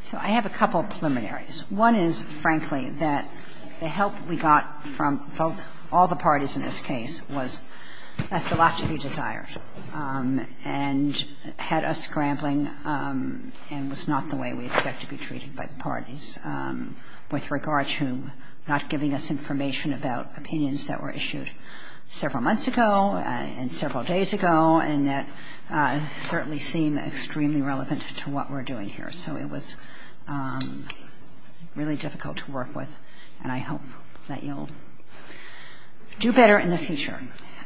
So I have a couple of preliminaries. One is, frankly, that the help we got from all the parties in this case was a lot to be desired and had us scrambling and was not the way we expected to be treated by the parties with regard to not giving us information about opinions that were issued several months ago and several days ago and that certainly seem extremely relevant to what we're doing here. So it was really difficult to work with and I hope that you'll do better in the future.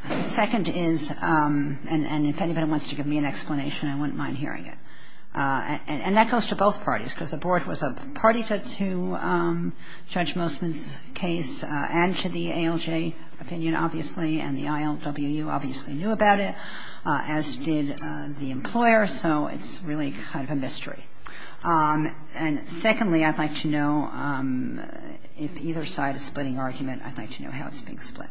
The second is, and if anybody wants to give me an explanation, I wouldn't mind hearing it, and that goes to both parties because the board was a party to Judge Mosman's case and to the ALJ opinion obviously and the ILWU obviously knew about it, as did the employer, so it's really kind of a mystery. And secondly, I'd like to know if either side is splitting argument, I'd like to know how it's being split.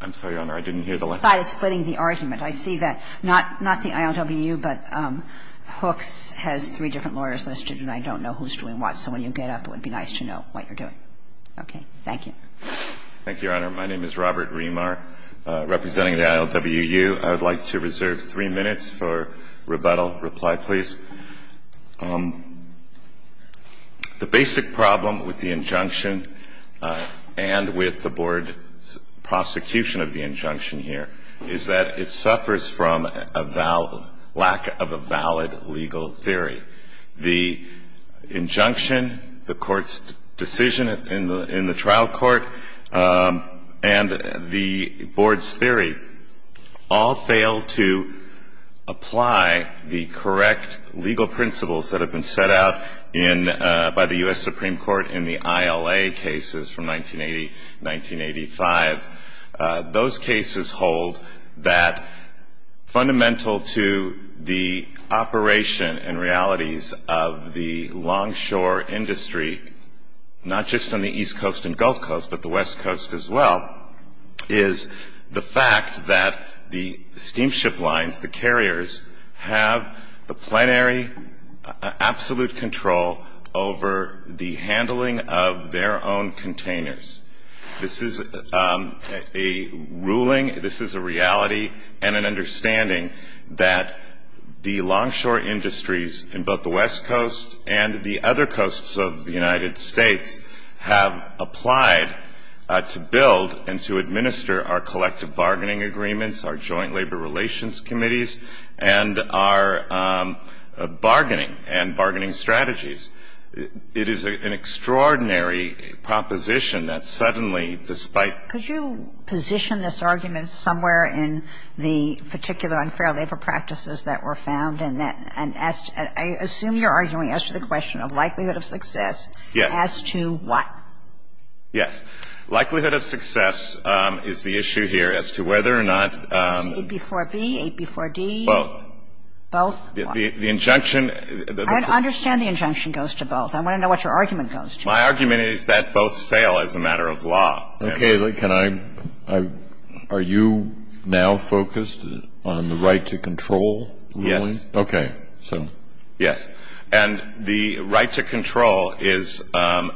I'm sorry, Your Honor, I didn't hear the last part. If either side is splitting the argument. I see that not the ILWU but Hooks has three different lawyers listed and I don't know who's doing what, so when you get up, it would be nice to know what you're doing. Okay. Thank you. Thank you, Your Honor. My name is Robert Remar, representing the ILWU. Reply, please. The basic problem with the injunction and with the board's prosecution of the injunction here is that it suffers from a lack of a valid legal theory. The injunction, the court's decision in the trial court, and the board's theory all fail to apply the correct legal principles that have been set out by the U.S. Supreme Court in the ILA cases from 1980-1985. Those cases hold that fundamental to the operation and realities of the longshore industry, not just on the East Coast and Gulf Coast but the West Coast as well, is the fact that the steamship lines, the carriers, have the plenary absolute control over the handling of their own containers. This is a ruling, this is a reality, and an understanding that the longshore industries in both the West Coast and the other coasts of the United States have applied to build and to administer our collective bargaining agreements, our joint labor relations committees, and our bargaining and bargaining strategies. It is an extraordinary proposition that suddenly, despite the fact that the U.S. Supreme Supreme Court in the ILA cases, it is an extraordinary proposition that suddenly, despite the fact that the U.S. Supreme Court has failed to apply the correct legal And that's just the way the argument goes to both. I want to know what your argument goes to. Breyer. My argument is that both fail as a matter of law. Kennedy. Okay. Can I – are you now focused on the right to control ruling? Yes. Okay. Yes. And the right to control is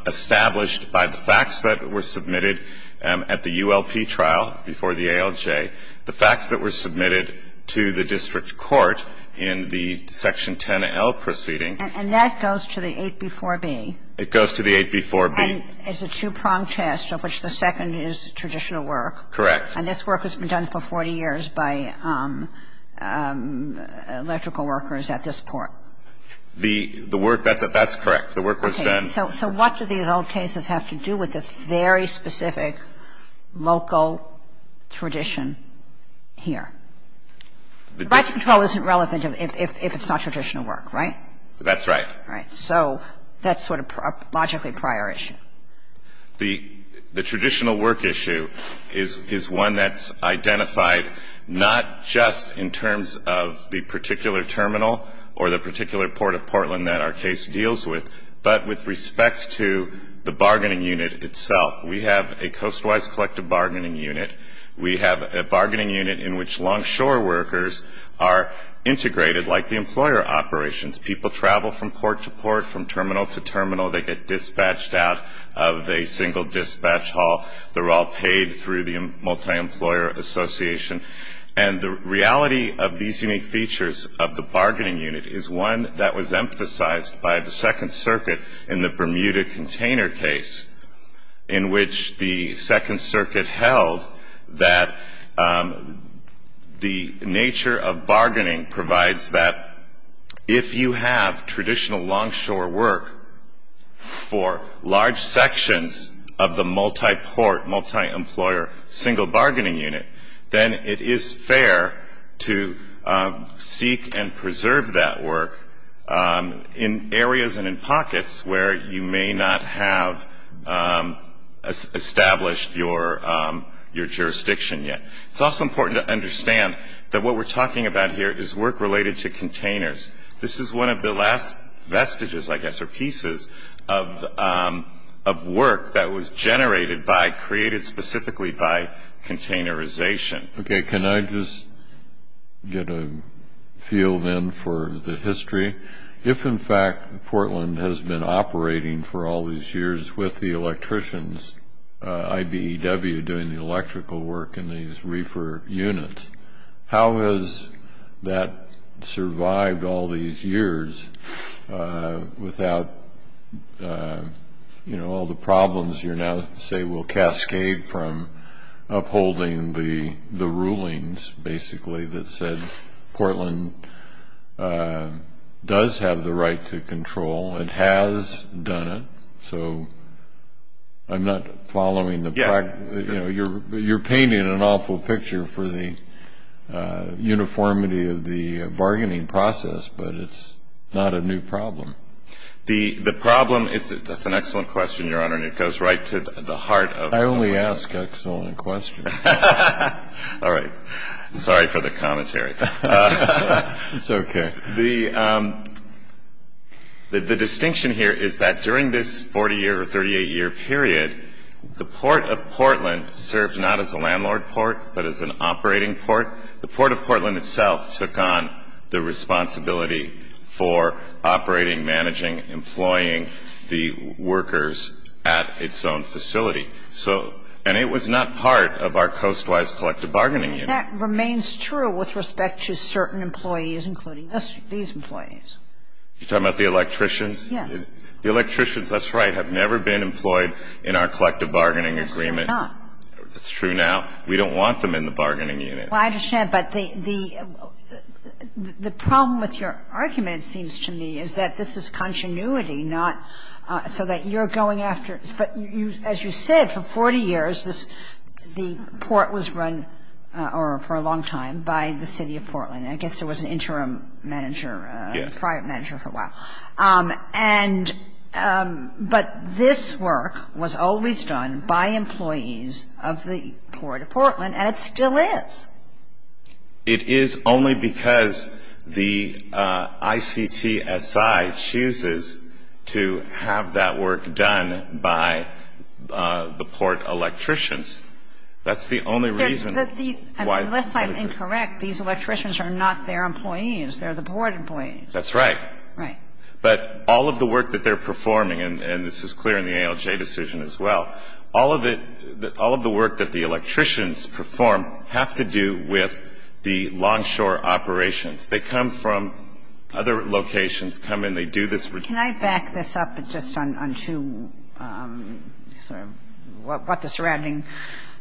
established by the facts that were submitted at the ULP trial before the ALJ, the facts that were submitted to the district court in the Section 10L proceeding. And that goes to the 8b-4b. It goes to the 8b-4b. And it's a two-pronged test of which the second is traditional work. Correct. And this work has been done for 40 years by electrical workers at this port. The work – that's correct. The work was done. Okay. So what do these old cases have to do with this very specific local tradition here? The right to control isn't relevant if it's not traditional work, right? That's right. Right. So that's sort of a logically prior issue. The traditional work issue is one that's identified not just in terms of the particular terminal or the particular port of Portland that our case deals with, but with respect to the bargaining unit itself. We have a coastwise collective bargaining unit. We have a bargaining unit in which longshore workers are integrated like the employer operations. People travel from port to port, from terminal to terminal. They get dispatched out of a single dispatch hall. They're all paid through the multi-employer association. And the reality of these unique features of the bargaining unit is one that was emphasized by the Second Circuit in the Bermuda container case in which the Second Circuit held that the nature of bargaining provides that if you have traditional longshore work for large sections of the multi-port, multi-employer single bargaining unit, then it is fair to seek and preserve that work in areas and in pockets where you may not have established your jurisdiction yet. It's also important to understand that what we're talking about here is work related to containers. This is one of the last vestiges, I guess, or pieces of work that was generated by, created specifically by containerization. Okay. Can I just get a feel then for the history? If, in fact, Portland has been operating for all these years with the electricians, IBEW doing the electrical work in these reefer units, how has that survived all these years without, you know, all the problems you now say will cascade from upholding the rulings, basically, that said Portland does have the right to control and has done it. So I'm not following the practice. Yes. You know, you're painting an awful picture for the uniformity of the bargaining process, but it's not a new problem. The problem is, that's an excellent question, Your Honor, and it goes right to the heart of the question. I only ask excellent questions. All right. Sorry for the commentary. It's okay. The distinction here is that during this 40-year or 38-year period, the Port of Portland served not as a landlord port, but as an operating port. The Port of Portland itself took on the responsibility for operating, managing, employing the workers at its own facility. So, and it was not part of our coastwise collective bargaining unit. And that remains true with respect to certain employees, including these employees. You're talking about the electricians? Yes. The electricians, that's right, have never been employed in our collective bargaining agreement. Of course they're not. That's true now. We don't want them in the bargaining unit. Well, I understand. But the problem with your argument, it seems to me, is that this is continuity, so that you're going after it. But as you said, for 40 years, the port was run, or for a long time, by the City of Portland. I guess there was an interim manager, a prior manager for a while. Yes. And but this work was always done by employees of the Port of Portland, and it still is. It is only because the ICTSI chooses to have that work done by the port electricians. That's the only reason why. Unless I'm incorrect, these electricians are not their employees. They're the port employees. That's right. Right. But all of the work that they're performing, and this is clear in the ALJ decision as well, all of it, all of the work that the electricians perform have to do with the longshore operations. They come from other locations, come and they do this. Can I back this up just on two sort of what the surrounding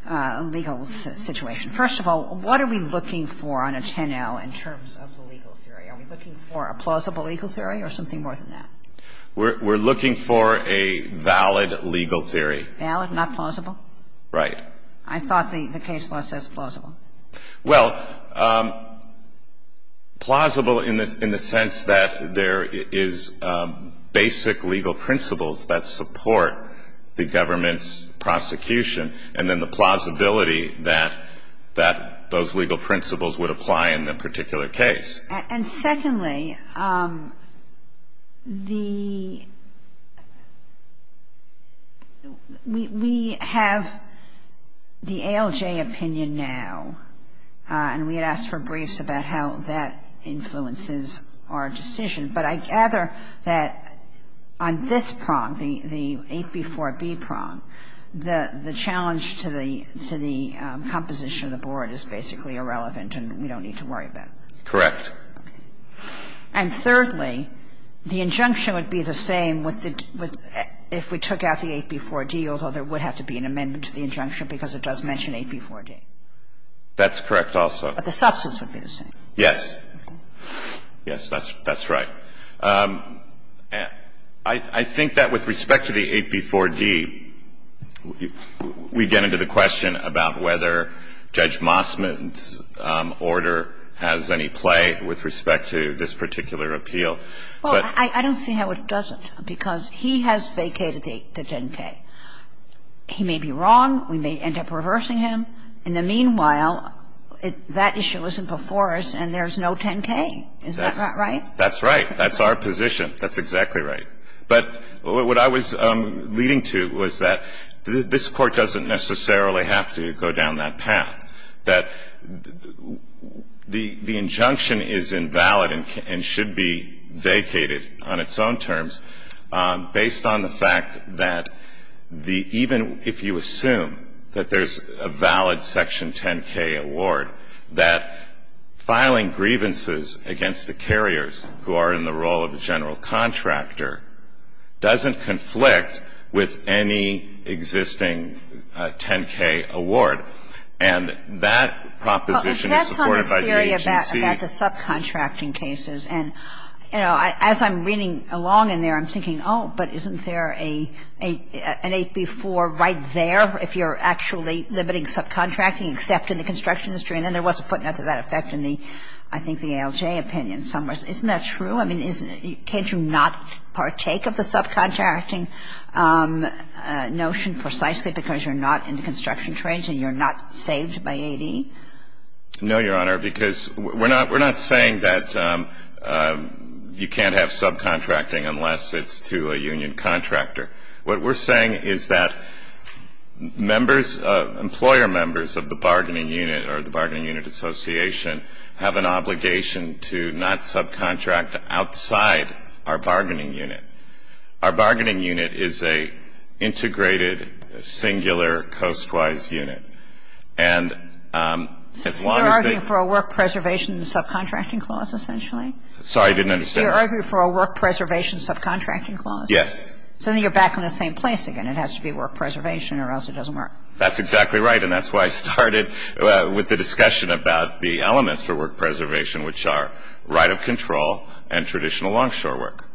legal situation? First of all, what are we looking for on a 10L in terms of the legal theory? Are we looking for a plausible legal theory or something more than that? We're looking for a valid legal theory. Valid, not plausible? Right. I thought the case law says plausible. Well, plausible in the sense that there is basic legal principles that support the government's prosecution and then the plausibility that those legal principles would apply in the particular case. And secondly, the we have the ALJ opinion now, and we had asked for briefs about how that influences our decision, but I gather that on this prong, the 8B4B prong, the challenge to the composition of the board is basically irrelevant and we don't need to worry about it. Correct. And thirdly, the injunction would be the same if we took out the 8B4D, although there would have to be an amendment to the injunction because it does mention 8B4D. That's correct also. But the substance would be the same. Yes. Yes, that's right. I think that with respect to the 8B4D, we get into the question about whether Judge Mossman's order has any play with respect to this particular appeal. Well, I don't see how it doesn't because he has vacated the 10K. He may be wrong. We may end up reversing him. In the meanwhile, that issue isn't before us and there's no 10K. Is that right? That's right. That's our position. That's exactly right. But what I was leading to was that this Court doesn't necessarily have to go down that path, that the injunction is invalid and should be vacated on its own terms based on the fact that even if you assume that there's a valid Section 10K award, that filing grievances against the carriers who are in the role of the general And that proposition is supported by your agency. Well, that's on the theory about the subcontracting cases. And, you know, as I'm reading along in there, I'm thinking, oh, but isn't there an 8B4 right there if you're actually limiting subcontracting except in the construction industry? And then there was a footnote to that effect in the, I think, the ALJ opinion somewhere. Isn't that true? I mean, can't you not partake of the subcontracting notion precisely because you're not in the construction trades and you're not saved by 8E? No, Your Honor, because we're not saying that you can't have subcontracting unless it's to a union contractor. What we're saying is that members, employer members of the bargaining unit or the bargaining unit association have an obligation to not subcontract outside our bargaining unit. Our bargaining unit is a integrated, singular, coastwise unit. And as long as they So you're arguing for a work preservation subcontracting clause, essentially? Sorry, I didn't understand. You're arguing for a work preservation subcontracting clause? Yes. So then you're back in the same place again. It has to be work preservation or else it doesn't work. That's exactly right. And that's why I started with the discussion about the elements for work preservation, which are right of control and traditional longshore work.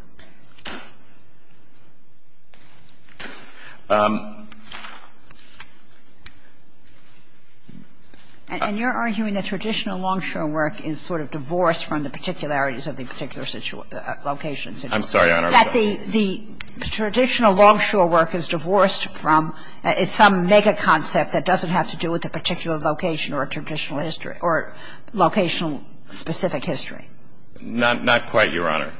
And you're arguing that traditional longshore work is sort of divorced from the particularities of the particular location. I'm sorry, Your Honor. That the traditional longshore work is divorced from some mega concept that doesn't have to do with a particular location or a traditional history or locational specific history. Not quite, Your Honor.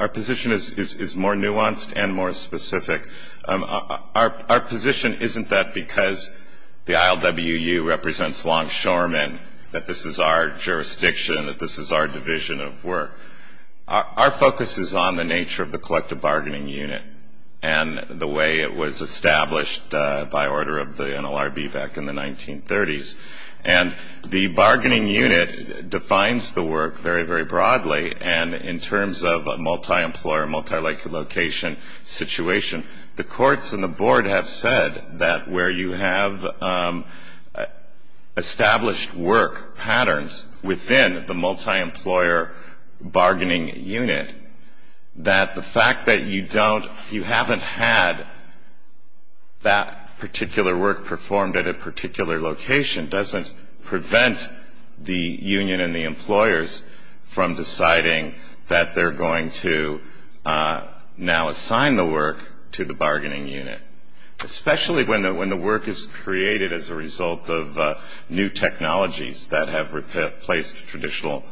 Our position is more nuanced and more specific. Our position isn't that because the ILWU represents longshoremen, that this is our jurisdiction, that this is our division of work. Our focus is on the nature of the collective bargaining unit and the way it was established by order of the NLRB back in the 1930s. And the bargaining unit defines the work very, very broadly. And in terms of a multi-employer, multi-location situation, the courts and the board have said that where you have established work patterns within the multi-employer bargaining unit, that the fact that you haven't had that particular work performed at a particular location doesn't prevent the union and the employers from deciding that they're going to now assign the work to the bargaining unit, especially when the work is created as a result of new technologies that have replaced traditional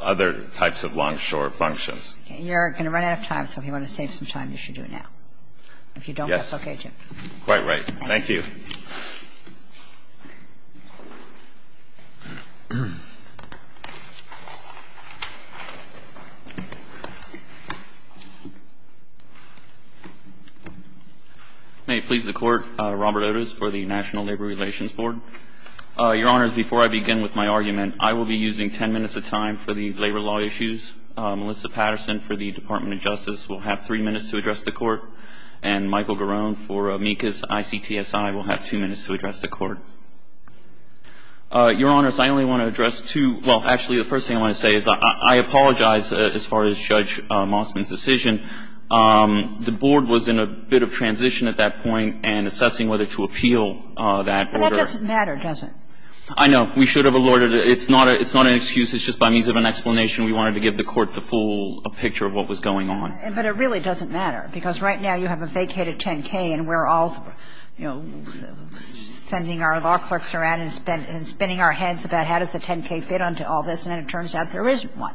other types of longshore functions. You're going to run out of time, so if you want to save some time, you should do it now. Yes. If you don't, that's okay, Jim. Quite right. Thank you. May it please the Court, Robert Otis for the National Labor Relations Board. Your Honors, before I begin with my argument, I will be using ten minutes of time for the labor law issues. Melissa Patterson for the Department of Justice will have three minutes to address the Court. And Michael Garone for MECAS ICTSI will have two minutes to address the Court. Your Honors, I only want to address two — well, actually, the first thing I want to say is I apologize as far as Judge Mossman's decision. The board was in a bit of transition at that point in assessing whether to appeal that order. But that doesn't matter, does it? I know. We should have allotted it. It's not an excuse. It's just by means of an explanation. We wanted to give the Court the full picture of what was going on. But it really doesn't matter, because right now you have a vacated 10-K and we're all, you know, sending our law clerks around and spinning our heads about how does the 10-K fit onto all this, and then it turns out there isn't one.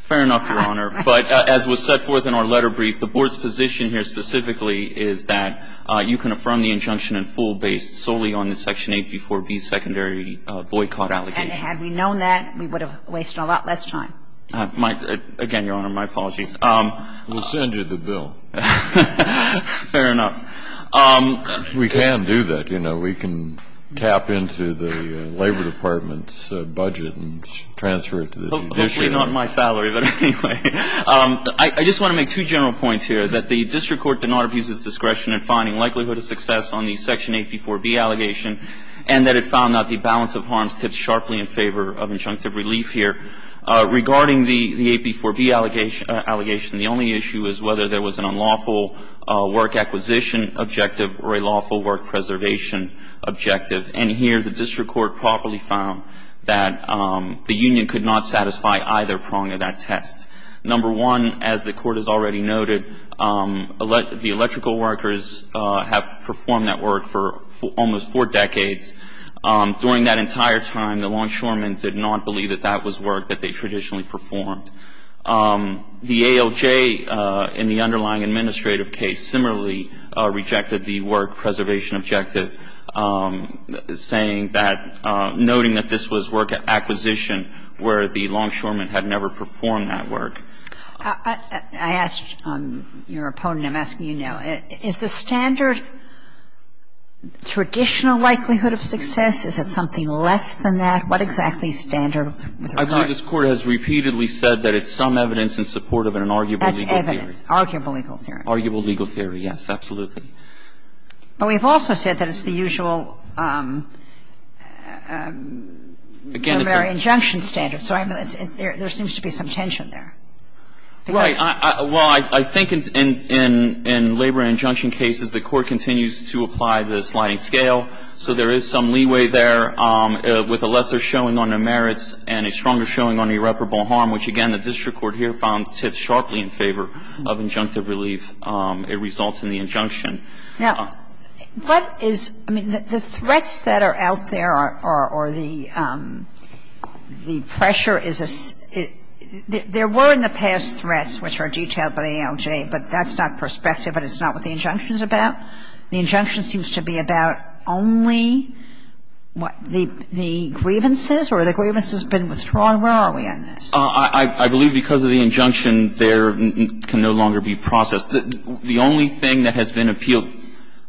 Fair enough, Your Honor. But as was set forth in our letter brief, the board's position here specifically is that you can affirm the injunction in full based solely on the Section 8B4B secondary boycott allegation. And had we known that, we would have wasted a lot less time. Again, Your Honor, my apologies. We'll send you the bill. Fair enough. We can do that, you know. We can tap into the Labor Department's budget and transfer it to the judiciary. Hopefully not my salary, but anyway. I just want to make two general points here, that the district court did not abuse its discretion in finding likelihood of success on the Section 8B4B allegation and that it found that the balance of harms tips sharply in favor of injunctive relief here. Regarding the 8B4B allegation, the only issue is whether there was an unlawful work acquisition objective or a lawful work preservation objective. And here the district court properly found that the union could not satisfy either prong of that test. Number one, as the court has already noted, the electrical workers have performed that work for almost four decades. During that entire time, the longshoremen did not believe that that was work that they traditionally performed. The ALJ in the underlying administrative case similarly rejected the work preservation objective, saying that, noting that this was work acquisition where the longshoremen had never performed that work. I asked your opponent, I'm asking you now, is the standard traditional likelihood of success? Is it something less than that? What exactly is standard with regard to that? I believe this Court has repeatedly said that it's some evidence in support of an arguable legal theory. That's evidence. Arguable legal theory. Arguable legal theory, yes, absolutely. But we've also said that it's the usual primary injunction standard. So there seems to be some tension there. Right. Well, I think in labor and injunction cases, the Court continues to apply the sliding scale, so there is some leeway there with a lesser showing on the merits and a stronger showing on irreparable harm, which, again, the district court here found tips sharply in favor of injunctive relief. It results in the injunction. Now, what is, I mean, the threats that are out there are, or the pressure is a, there were in the past threats which are detailed by the ALJ, but that's not prospective and it's not what the injunction is about. The injunction seems to be about only the grievances or the grievances have been withdrawn. Where are we on this? I believe because of the injunction, there can no longer be process. The only thing that has been appealed,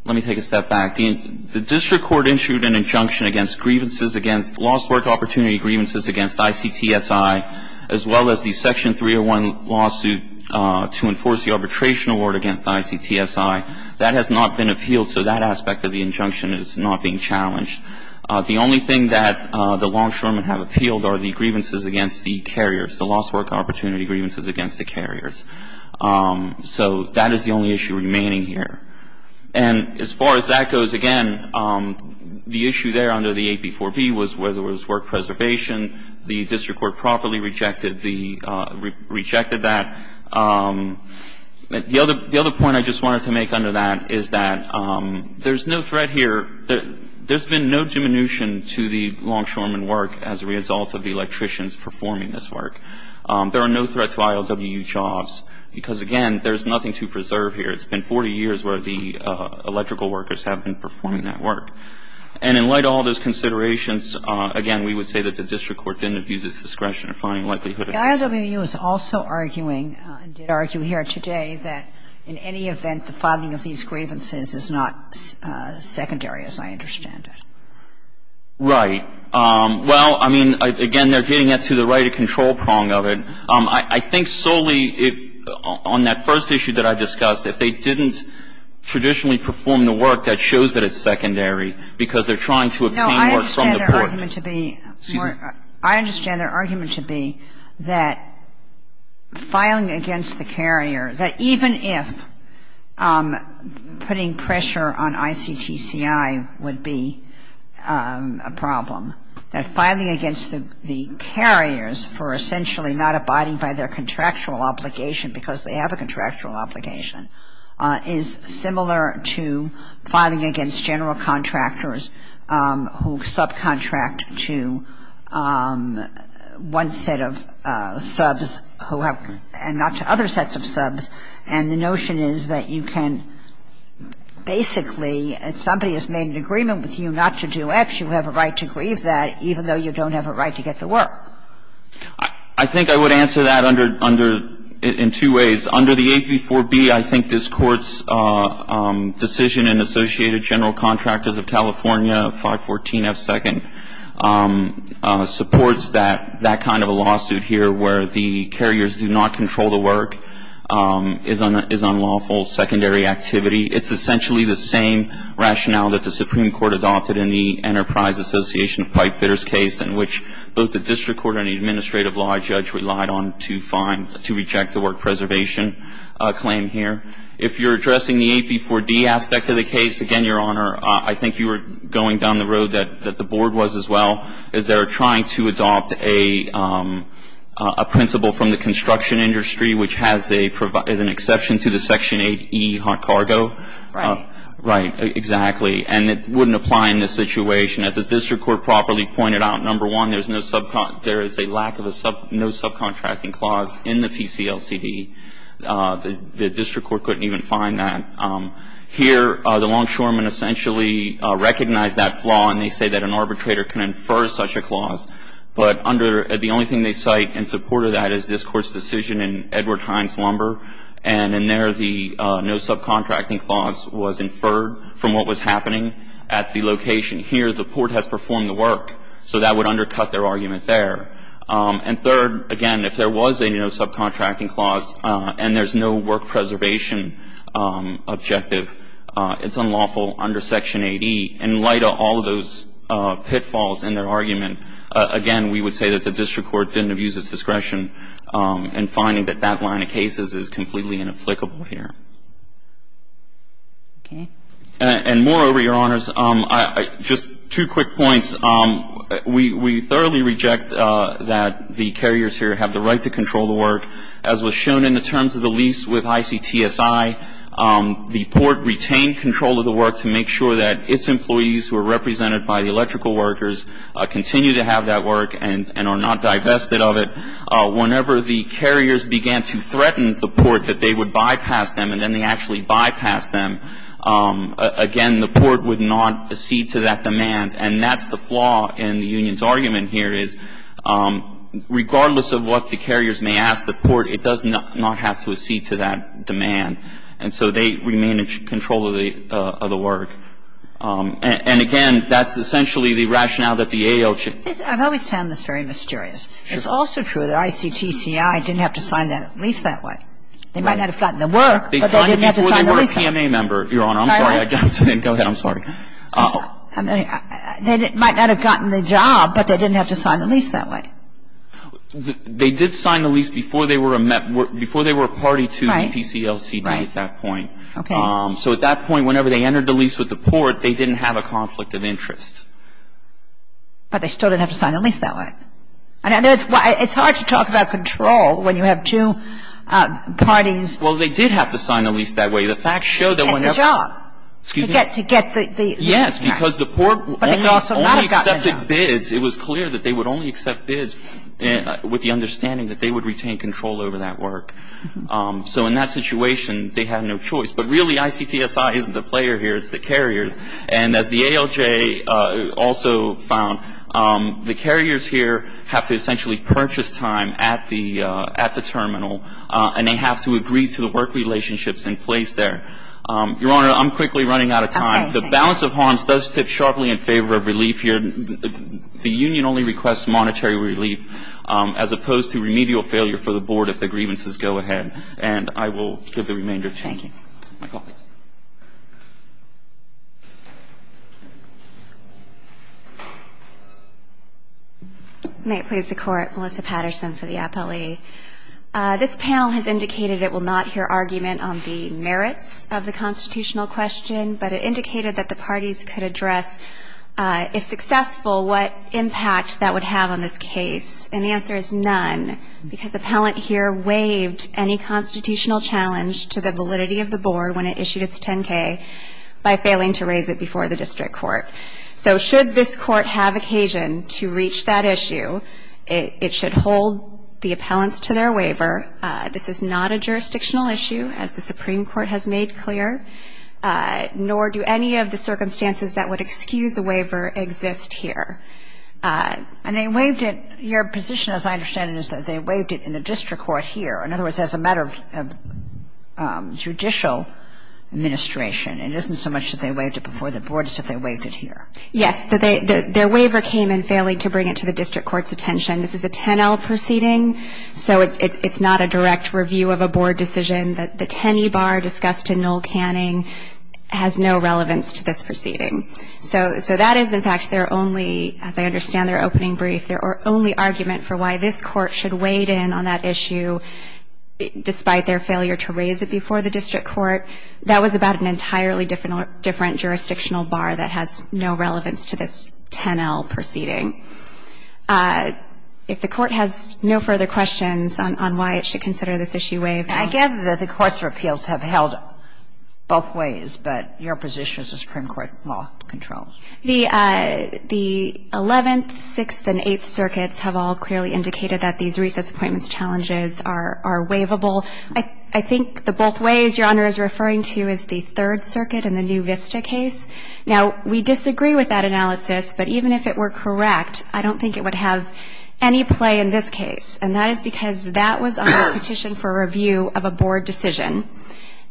let me take a step back. The district court issued an injunction against grievances against lost work opportunity grievances against ICTSI, as well as the Section 301 lawsuit to enforce the arbitration award against ICTSI. That has not been appealed, so that aspect of the injunction is not being challenged. The only thing that the longshoremen have appealed are the grievances against the carriers, the lost work opportunity grievances against the carriers. So that is the only issue remaining here. And as far as that goes, again, the issue there under the AP4B was whether it was work preservation. The district court properly rejected the, rejected that. The other point I just wanted to make under that is that there's no threat here, there's been no diminution to the longshoremen work as a result of the electricians performing this work. There are no threats to IOWU jobs because, again, there's nothing to preserve here. It's been 40 years where the electrical workers have been performing that work. And in light of all those considerations, again, we would say that the district court didn't abuse its discretion in finding likelihood of success. Kagan. IOWU is also arguing, and did argue here today, that in any event, the filing of these grievances is not secondary as I understand it. Right. Well, I mean, again, they're getting at to the right of control prong of it. I think solely if, on that first issue that I discussed, if they didn't traditionally perform the work, that shows that it's secondary because they're trying to obtain work from the port. No, I understand their argument to be more, I understand their argument to be that filing against the carrier, that even if putting pressure on ICTCI would be a problem that filing against the carriers for essentially not abiding by their contractual obligation because they have a contractual obligation is similar to filing against general contractors who subcontract to one set of subs who have, and not to other sets of subs. And the notion is that you can basically, if somebody has made an agreement with you not to do X, you have a right to grieve that even though you don't have a right to get the work. I think I would answer that under, in two ways. Under the 8b4b, I think this Court's decision in Associated General Contractors of California, 514F2nd, supports that, that kind of a lawsuit here where the carriers do not control the work, is unlawful, secondary activity. It's essentially the same rationale that the Supreme Court adopted in the Enterprise Association of Pipefitters case in which both the district court and the administrative law judge relied on to find, to reject the work preservation claim here. If you're addressing the 8b4d aspect of the case, again, Your Honor, I think you were going down the road that the board was as well, is they're trying to adopt a principle from the construction industry which has a, is an exception to the Section 8e hot cargo. Right. Exactly. And it wouldn't apply in this situation. As the district court properly pointed out, number one, there's no subcontracting clause in the PCLCD. The district court couldn't even find that. Here, the longshoremen essentially recognize that flaw, and they say that an arbitrator can infer such a clause. But under the only thing they cite in support of that is this Court's decision in Edward Hines Lumber, and in there the no subcontracting clause was inferred from what was happening at the location. Here, the court has performed the work, so that would undercut their argument there. And third, again, if there was a no subcontracting clause and there's no work preservation objective, it's unlawful under Section 8e. In light of all of those pitfalls in their argument, again, we would say that the district court didn't abuse its discretion in finding that that line of cases is completely inapplicable here. Okay. And moreover, Your Honors, just two quick points. We thoroughly reject that the carriers here have the right to control the work. As was shown in the terms of the lease with ICTSI, the port retained control of the work to make sure that its employees who are represented by the electrical workers continue to have that work and are not divested of it. Whenever the carriers began to threaten the port that they would bypass them, and then they actually bypassed them, again, the port would not accede to that demand. And that's the flaw in the union's argument here, is regardless of what the carriers may ask the port, it does not have to accede to that demand. And so they remain in control of the work. And, again, that's essentially the rationale that the ALC. I've always found this very mysterious. It's also true that ICTSI didn't have to sign that lease that way. They might not have gotten the work, but they didn't have to sign the lease. They signed it before they were a PMA member, Your Honor. I'm sorry. Go ahead. I'm sorry. They might not have gotten the job, but they didn't have to sign the lease that way. They did sign the lease before they were a party to the PCLCD at that point. Right. Okay. So at that point, whenever they entered the lease with the port, they didn't have a conflict of interest. But they still didn't have to sign the lease that way. And it's hard to talk about control when you have two parties. Well, they did have to sign the lease that way. The facts show that when they're ---- To get the job. Excuse me? To get the lease. Yes, because the port only accepted bids. It was clear that they would only accept bids with the understanding that they would retain control over that work. So in that situation, they had no choice. But really, ICTSI isn't the player here. It's the carriers. And as the ALJ also found, the carriers here have to essentially purchase time at the terminal, and they have to agree to the work relationships in place there. Your Honor, I'm quickly running out of time. The balance of harms does tip sharply in favor of relief here. The union only requests monetary relief as opposed to remedial failure for the board if the grievances go ahead. And I will give the remainder of the time. Thank you. My colleagues. May it please the Court, Melissa Patterson for the appellee. This panel has indicated it will not hear argument on the merits of the constitutional question, but it indicated that the parties could address, if successful, what impact that would have on this case. And the answer is none, because appellant here waived any constitutional challenge to the validity of the board when it issued its 10-K by failing to raise it before the district court. So should this court have occasion to reach that issue, it should hold the appellants to their waiver. This is not a jurisdictional issue, as the Supreme Court has made clear. Nor do any of the circumstances that would excuse the waiver exist here. And they waived it. Your position, as I understand it, is that they waived it in the district court here. In other words, as a matter of judicial administration, it isn't so much that they waived it before the board as if they waived it here. Yes. Their waiver came in failing to bring it to the district court's attention. This is a 10-L proceeding, so it's not a direct review of a board decision. The 10-E bar discussed in Noel Canning has no relevance to this proceeding. So that is, in fact, their only, as I understand their opening brief, their only argument for why this court should wade in on that issue despite their failure to raise it before the district court. That was about an entirely different jurisdictional bar that has no relevance to this 10-L proceeding. If the court has no further questions on why it should consider this issue waived in the district court, I'm happy to take questions. Kagan. I gather that the courts of appeals have held both ways, but your position is the Supreme Court law controls. The 11th, 6th, and 8th circuits have all clearly indicated that these recess appointments challenges are waivable. I think the both ways Your Honor is referring to is the Third Circuit in the new Vista case. Now, we disagree with that analysis, but even if it were correct, I don't think it would have any play in this case, and that is because that was on the petition for review of a board decision,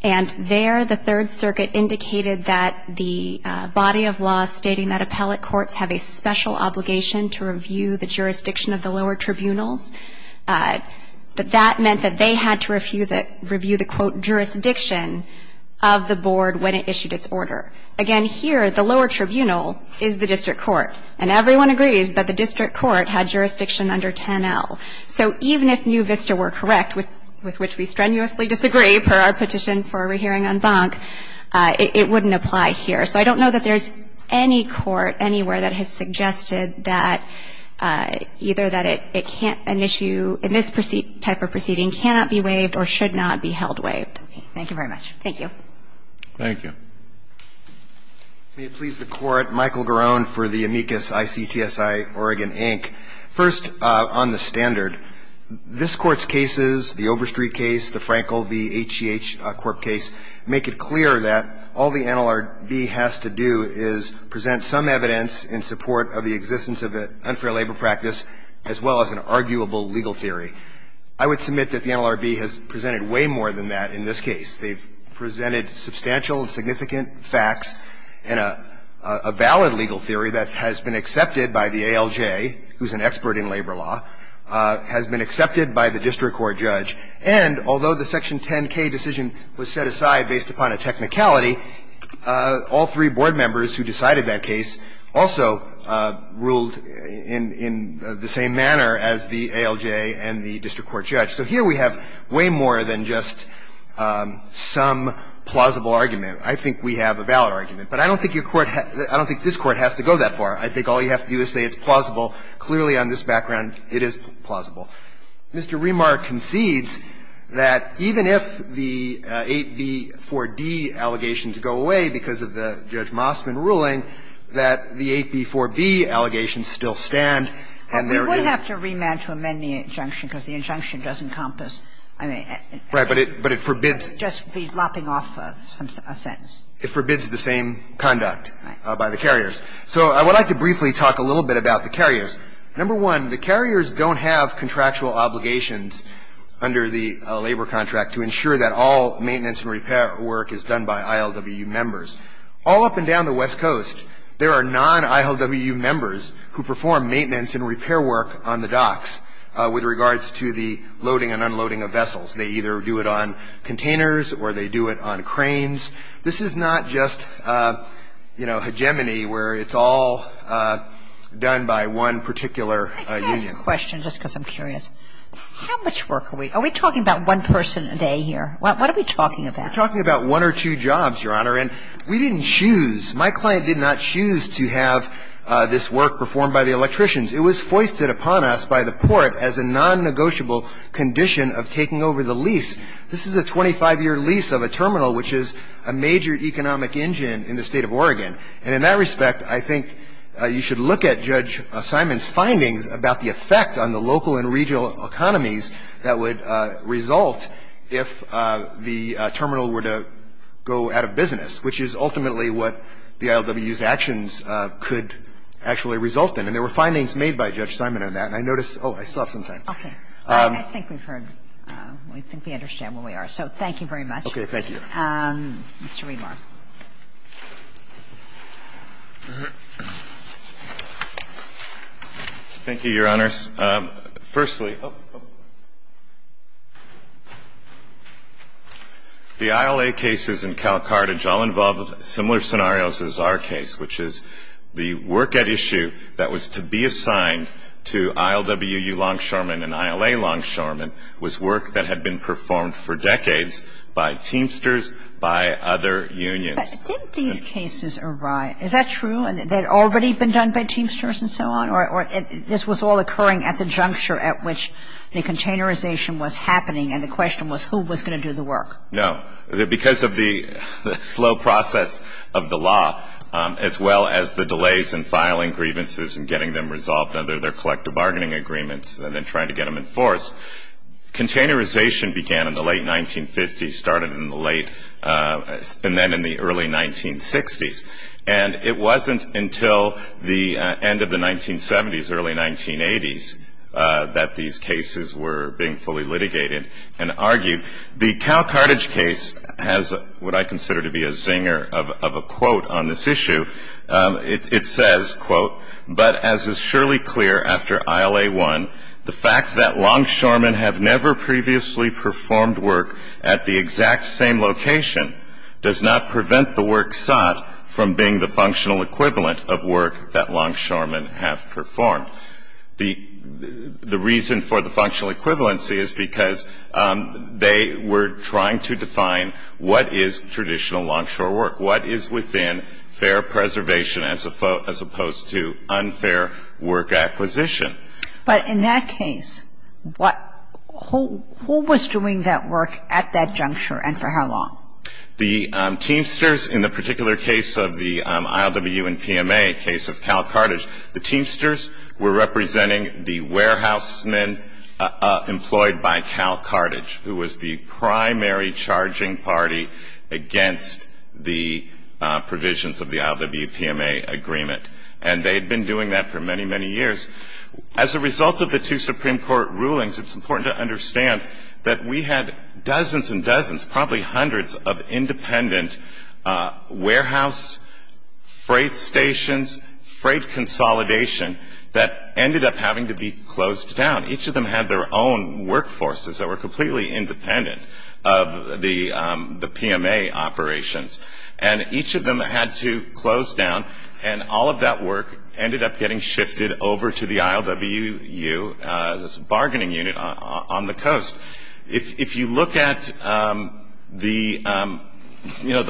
and there the Third Circuit indicated that the body of law stating that appellate courts have a special obligation to review the jurisdiction of the lower tribunals, that that meant that they had to review the, quote, jurisdiction of the board when it issued its order. Again, here, the lower tribunal is the district court, and everyone agrees that the district court had jurisdiction under 10-L. So even if new Vista were correct, with which we strenuously disagree per our petition for a rehearing en banc, it wouldn't apply here. So I don't know that there's any court anywhere that has suggested that either that it can't, an issue in this type of proceeding cannot be waived or should not be held waived. Thank you very much. Thank you. Thank you. May it please the Court. Michael Garone for the amicus ICTSI, Oregon, Inc. First, on the standard. This Court's cases, the Overstreet case, the Frankel v. HGH Corp. case, make it clear that all the NLRB has to do is present some evidence in support of the existence of an unfair labor practice as well as an arguable legal theory. I would submit that the NLRB has presented way more than that in this case. They've presented substantial and significant facts and a valid legal theory that has been accepted by the ALJ, who's an expert in labor law, has been accepted by the district court judge. And although the Section 10-K decision was set aside based upon a technicality, all three board members who decided that case also ruled in the same manner as the ALJ and the district court judge. So here we have way more than just some plausible argument. I think we have a valid argument. But I don't think your court has to go that far. I think all you have to do is say it's plausible. Clearly, on this background, it is plausible. Mr. Remar concedes that even if the 8b-4d allegations go away because of the Judge Mossman ruling, that the 8b-4b allegations still stand, and there is no reason to believe that the 8b-4b allegation does encompass, I mean, just be lopping off a sentence. It forbids the same conduct by the carriers. So I would like to briefly talk a little bit about the carriers. Number one, the carriers don't have contractual obligations under the labor contract to ensure that all maintenance and repair work is done by ILWU members. All up and down the West Coast, there are non-ILWU members who perform maintenance and repair work on the docks with regards to the loading and unloading of vessels. They either do it on containers or they do it on cranes. This is not just, you know, hegemony where it's all done by one particular union. Let me ask a question just because I'm curious. How much work are we – are we talking about one person a day here? What are we talking about? We're talking about one or two jobs, Your Honor. And we didn't choose. My client did not choose to have this work performed by the electricians. It was foisted upon us by the Port as a non-negotiable condition of taking over the lease. This is a 25-year lease of a terminal, which is a major economic engine in the State of Oregon. And in that respect, I think you should look at Judge Simon's findings about the effect on the local and regional economies that would result if the terminal were to go out of business, which is ultimately what the ILWU's actions could actually result in. And there were findings made by Judge Simon on that. And I noticed – oh, I still have some time. Okay. I think we've heard – I think we understand where we are. So thank you very much. Okay. Thank you. Mr. Riedemar. Thank you, Your Honors. Firstly, the ILA cases in Calcartage all involve similar scenarios as our case, which is the work at issue that was to be assigned to ILWU longshoremen and ILA longshoremen was work that had been performed for decades by Teamsters, by other unions. But didn't these cases arrive – is that true? They had already been done by Teamsters and so on? Or this was all occurring at the juncture at which the containerization was happening and the question was who was going to do the work? No. Because of the slow process of the law, as well as the delays in filing grievances and getting them resolved under their collective bargaining agreements and then trying to get them enforced, containerization began in the late 1950s, started in the late – and then in the early 1960s. And it wasn't until the end of the 1970s, early 1980s, that these cases were being fully litigated and argued. The Calcartage case has what I consider to be a zinger of a quote on this issue. It says, quote, but as is surely clear after ILA 1, the fact that longshoremen have never previously performed work at the exact same location does not prevent the work sought from being the functional equivalent of work that longshoremen have performed. The reason for the functional equivalency is because they were trying to define what is traditional longshore work. What is within fair preservation as opposed to unfair work acquisition? But in that case, what – who was doing that work at that juncture and for how long? The Teamsters, in the particular case of the ILW and PMA case of Calcartage, the Teamsters were representing the warehousemen employed by Calcartage, who was the primary charging party against the provisions of the ILW-PMA agreement. And they had been doing that for many, many years. As a result of the two Supreme Court rulings, it's important to understand that we had having to be closed down. Each of them had their own workforces that were completely independent of the PMA operations. And each of them had to close down. And all of that work ended up getting shifted over to the ILWU, this bargaining unit on the coast. If you look at the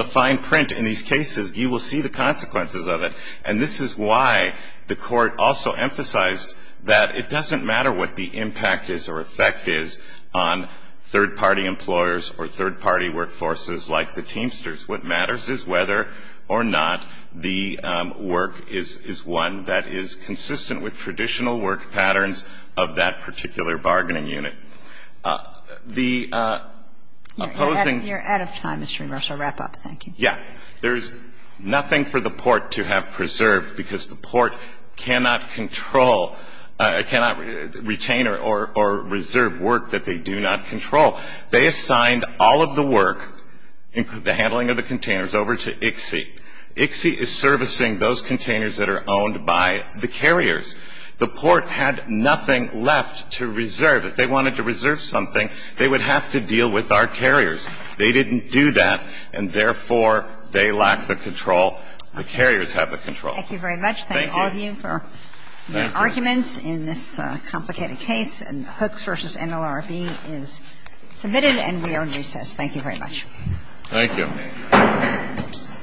fine print in these cases, you will see the consequences of it. And this is why the Court also emphasized that it doesn't matter what the impact is or effect is on third-party employers or third-party workforces like the Teamsters. What matters is whether or not the work is one that is consistent with traditional work patterns of that particular bargaining unit. The opposing – You're out of time, Mr. Ramos. I'll wrap up. Yeah. There's nothing for the Port to have preserved because the Port cannot control – cannot retain or reserve work that they do not control. They assigned all of the work, including the handling of the containers, over to ICSI. ICSI is servicing those containers that are owned by the carriers. The Port had nothing left to reserve. If they wanted to reserve something, they would have to deal with our carriers. They didn't do that, and therefore, they lack the control. The carriers have the control. Thank you very much. Thank all of you for your arguments in this complicated case. And Hooks v. NLRB is submitted, and we are in recess. Thank you very much. Thank you.